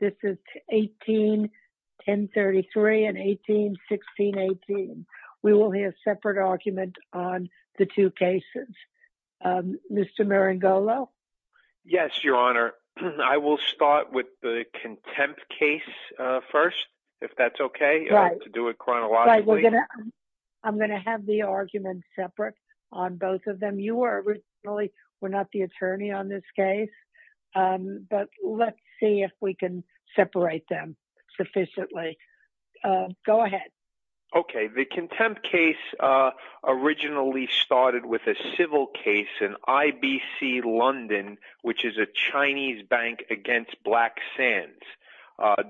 This is 18-1033 and 18-1618. We will hear a separate argument on the two cases. Mr. Marangolo? Yes, Your Honor. I will start with the contempt case first, if that's okay, to do it chronologically. I'm going to have the argument separate on both of them. You were not the attorney on this case, but let's see if we can separate them sufficiently. Go ahead. Okay. The contempt case originally started with a civil case in IBC London, which is a Chinese bank against Blacksands.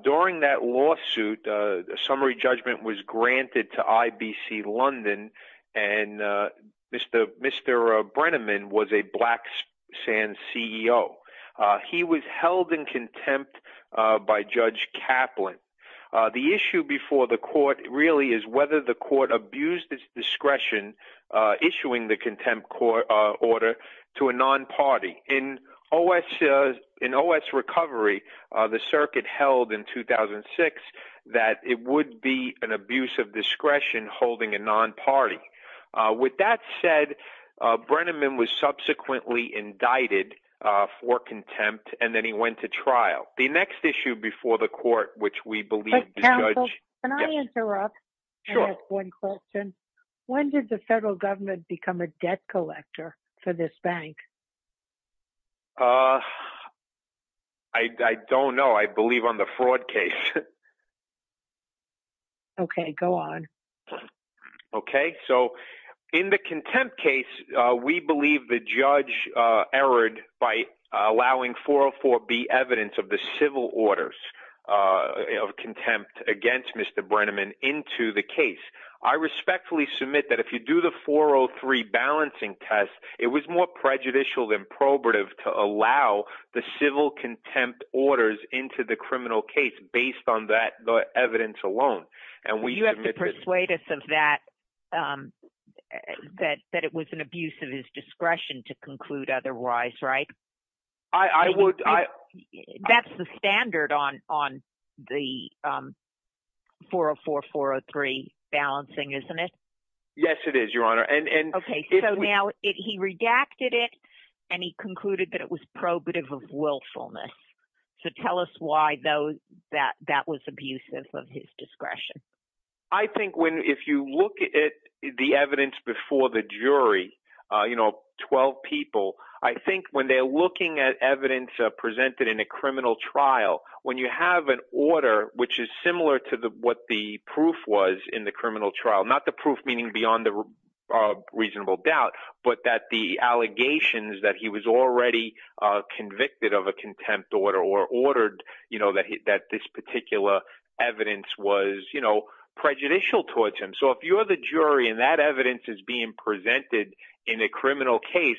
During that lawsuit, a summary judgment was granted to IBC London, and Mr. Brenneman was a Blacksands CEO. He was held in contempt by Judge Kaplan. The issue before the court really is whether the court abused its discretion issuing the contempt court order to a non-party. In OS Recovery, the circuit held in 2006 that it would be an abuse of discretion holding a non-party. With that said, Brenneman was subsequently indicted for contempt, and then he went to trial. The next issue before the court, which we believe the judge… Counsel, can I interrupt? Sure. I have one question. When did the federal government become a debt collector for this bank? I don't know. I believe on the fraud case. Okay. Go on. Okay. So in the contempt case, we believe the judge erred by allowing 404B evidence of the civil orders of contempt against Mr. Brenneman into the case. I respectfully submit that if you do the 403 balancing test, it was more prejudicial than probative to allow the civil contempt orders into the criminal case based on that evidence alone. You have to persuade us of that, that it was an abuse of his discretion to conclude otherwise, right? I would – That's the standard on the 404-403 balancing, isn't it? Okay. So now he redacted it, and he concluded that it was probative of willfulness. So tell us why, though, that that was abusive of his discretion. I think when – if you look at the evidence before the jury, 12 people, I think when they're looking at evidence presented in a criminal trial, when you have an order which is similar to what the proof was in the criminal trial, not the proof meaning beyond a reasonable doubt, but that the allegations that he was already convicted of a contempt order or ordered that this particular evidence was prejudicial towards him. So if you're the jury and that evidence is being presented in a criminal case,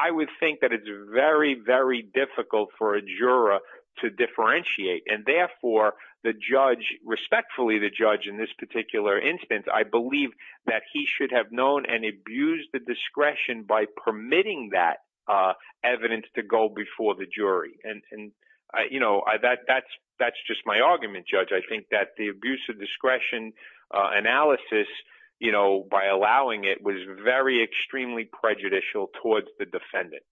I would think that it's very, very difficult for a juror to differentiate. And therefore, the judge – respectfully, the judge in this particular instance, I believe that he should have known and abused the discretion by permitting that evidence to go before the jury. And that's just my argument, Judge. I think that the abuse of discretion analysis by allowing it was very extremely prejudicial towards the defendant.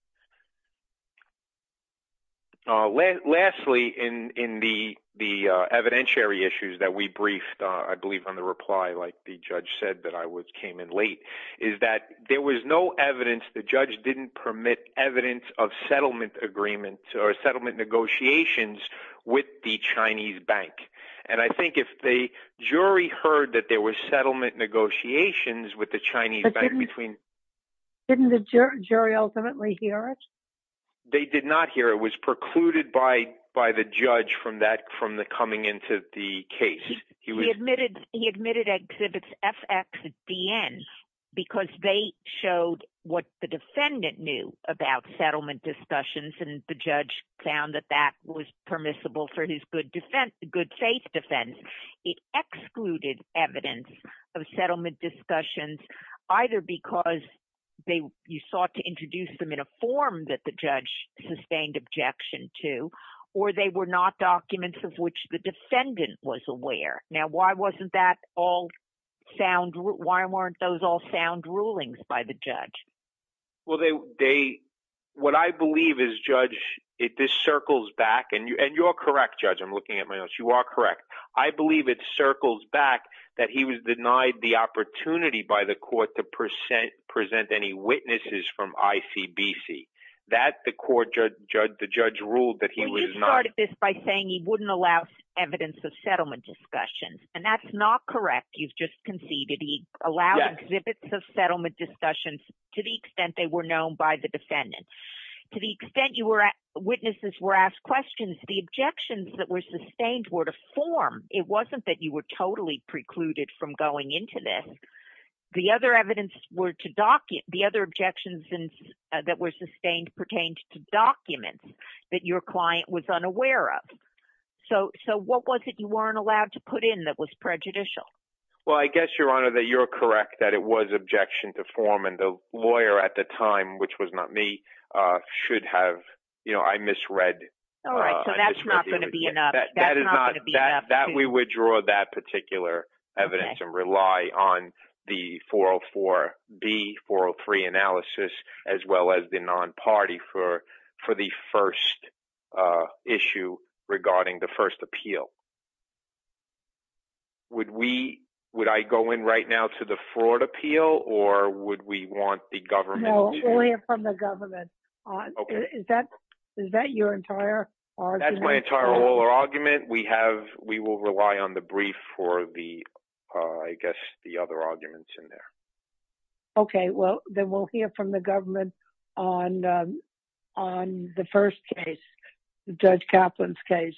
Lastly, in the evidentiary issues that we briefed, I believe on the reply like the judge said that I came in late, is that there was no evidence. The judge didn't permit evidence of settlement agreement or settlement negotiations with the Chinese bank. And I think if the jury heard that there were settlement negotiations with the Chinese bank between – They did not hear it. It was precluded by the judge from that – from the coming into the case. He admitted exhibits FXDN because they showed what the defendant knew about settlement discussions, and the judge found that that was permissible for his good defense – good faith defense. It excluded evidence of settlement discussions either because they – you sought to introduce them in a form that the judge sustained objection to, or they were not documents of which the defendant was aware. Now, why wasn't that all sound – why weren't those all sound rulings by the judge? Well, they – what I believe is, Judge, if this circles back – and you're correct, Judge. I'm looking at my notes. You are correct. I believe it circles back that he was denied the opportunity by the court to present any witnesses from ICBC. That the court – the judge ruled that he was not – to the extent they were known by the defendant. To the extent you were – witnesses were asked questions, the objections that were sustained were to form. It wasn't that you were totally precluded from going into this. The other evidence were to – the other objections that were sustained pertained to documents that your client was unaware of. So what was it you weren't allowed to put in that was prejudicial? Well, I guess, Your Honor, that you're correct that it was objection to form, and the lawyer at the time, which was not me, should have – I misread. All right. So that's not going to be enough. That's not going to be enough. That is not – that we would draw that particular evidence and rely on the 404B, 403 analysis, as well as the non-party for the first issue regarding the first appeal. Would we – would I go in right now to the fraud appeal, or would we want the government – No, we'll hear from the government. Okay. Is that – is that your entire argument? That's my entire oral argument. We have – we will rely on the brief for the, I guess, the other arguments in there. Okay. Well, then we'll hear from the government on the first case, Judge Kaplan's case.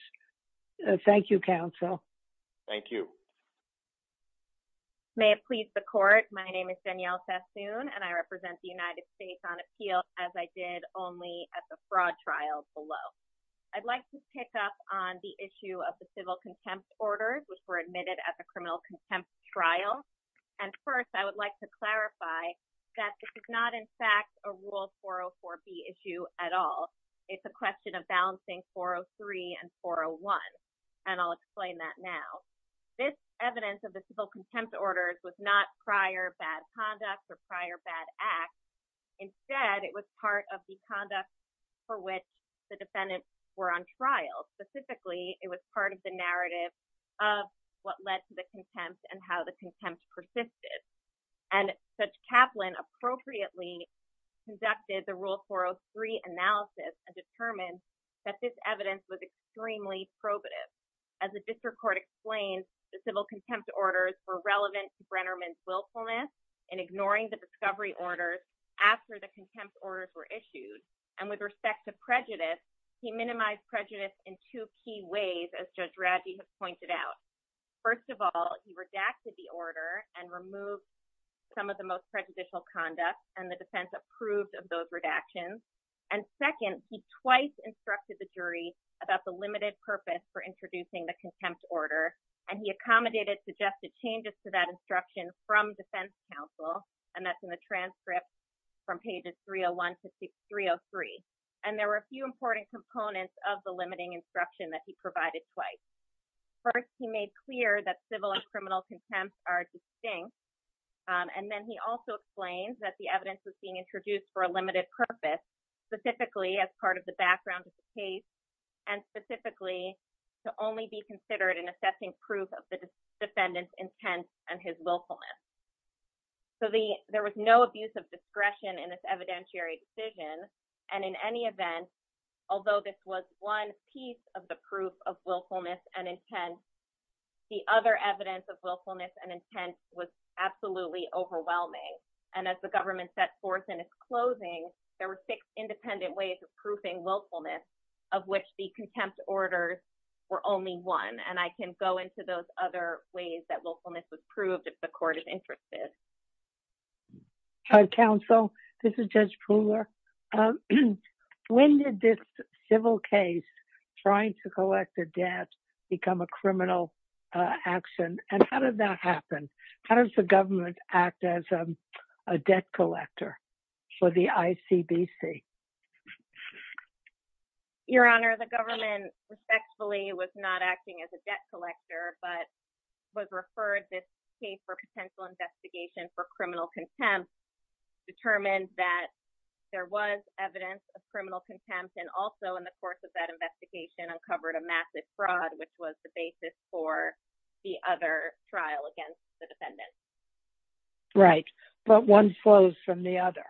Thank you, counsel. Thank you. May it please the court, my name is Danielle Sassoon, and I represent the United States on appeal, as I did only at the fraud trial below. I'd like to pick up on the issue of the civil contempt orders, which were admitted at the criminal contempt trial. And first, I would like to clarify that this is not, in fact, a rule 404B issue at all. It's a question of balancing 403 and 401, and I'll explain that now. This evidence of the civil contempt orders was not prior bad conduct or prior bad acts. Instead, it was part of the conduct for which the defendants were on trial. Specifically, it was part of the narrative of what led to the contempt and how the contempt persisted. And Judge Kaplan appropriately conducted the Rule 403 analysis and determined that this evidence was extremely probative. As the district court explained, the civil contempt orders were relevant to Brennerman's willfulness in ignoring the discovery orders after the contempt orders were issued. And with respect to prejudice, he minimized prejudice in two key ways, as Judge Raddy has pointed out. First of all, he redacted the order and removed some of the most prejudicial conduct, and the defense approved of those redactions. And second, he twice instructed the jury about the limited purpose for introducing the contempt order. And he accommodated suggested changes to that instruction from defense counsel, and that's in the transcript from pages 301 to 303. And there were a few important components of the limiting instruction that he provided twice. First, he made clear that civil and criminal contempt are distinct. And then he also explained that the evidence was being introduced for a limited purpose, specifically as part of the background of the case, and specifically to only be considered in assessing proof of the defendant's intent and his willfulness. So there was no abuse of discretion in this evidentiary decision, and in any event, although this was one piece of the proof of willfulness and intent, the other evidence of willfulness and intent was absolutely overwhelming. And as the government set forth in its closing, there were six independent ways of proofing willfulness, of which the contempt orders were only one. And I can go into those other ways that willfulness was proved if the court is interested. Hi, counsel. This is Judge Pooler. When did this civil case trying to collect a debt become a criminal action, and how did that happen? How does the government act as a debt collector for the ICBC? Your Honor, the government respectfully was not acting as a debt collector, but was referred this case for potential investigation for criminal contempt, determined that there was evidence of criminal contempt, and also in the course of that investigation uncovered a massive fraud, which was the basis for the other trial against the defendant. Right, but one flows from the other.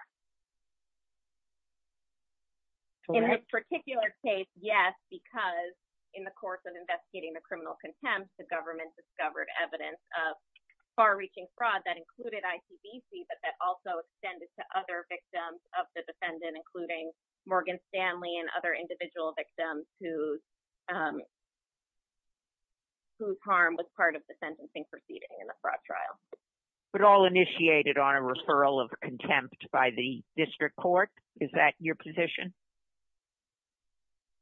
In this particular case, yes, because in the course of investigating the criminal contempt, the government discovered evidence of far-reaching fraud that included ICBC, but that also extended to other victims of the defendant, including Morgan Stanley and other individual victims whose harm was part of the sentencing proceeding in the fraud trial. But all initiated on a referral of contempt by the district court? Is that your position?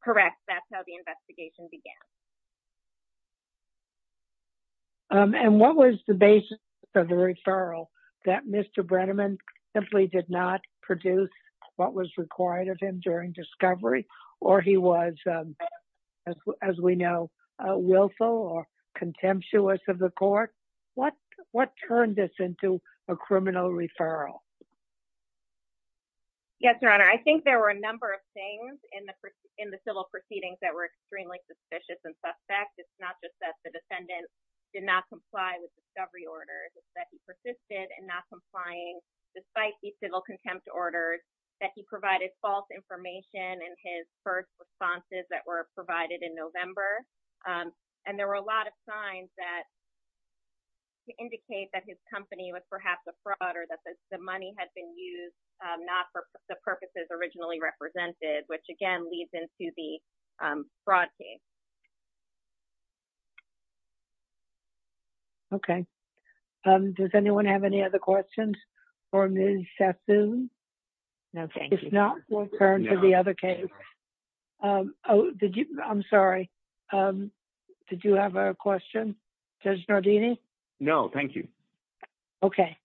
Correct. That's how the investigation began. And what was the basis of the referral, that Mr. Brenneman simply did not produce what was required of him during discovery, or he was, as we know, willful or contemptuous of the court? What turned this into a criminal referral? Yes, Your Honor, I think there were a number of things in the civil proceedings that were extremely suspicious and suspect. It's not just that the defendant did not comply with discovery orders, it's that he persisted in not complying despite the civil contempt orders, that he provided false information in his first responses that were provided in November. And there were a lot of signs that indicate that his company was perhaps a fraud or that the money had been used not for the purposes originally represented, which again leads into the fraud case. Okay. Does anyone have any other questions for Ms. Sassoon? No, thank you. If not, we'll turn to the other case. Oh, did you? I'm sorry. Did you have a question? Judge Nardini? No, thank you. Okay.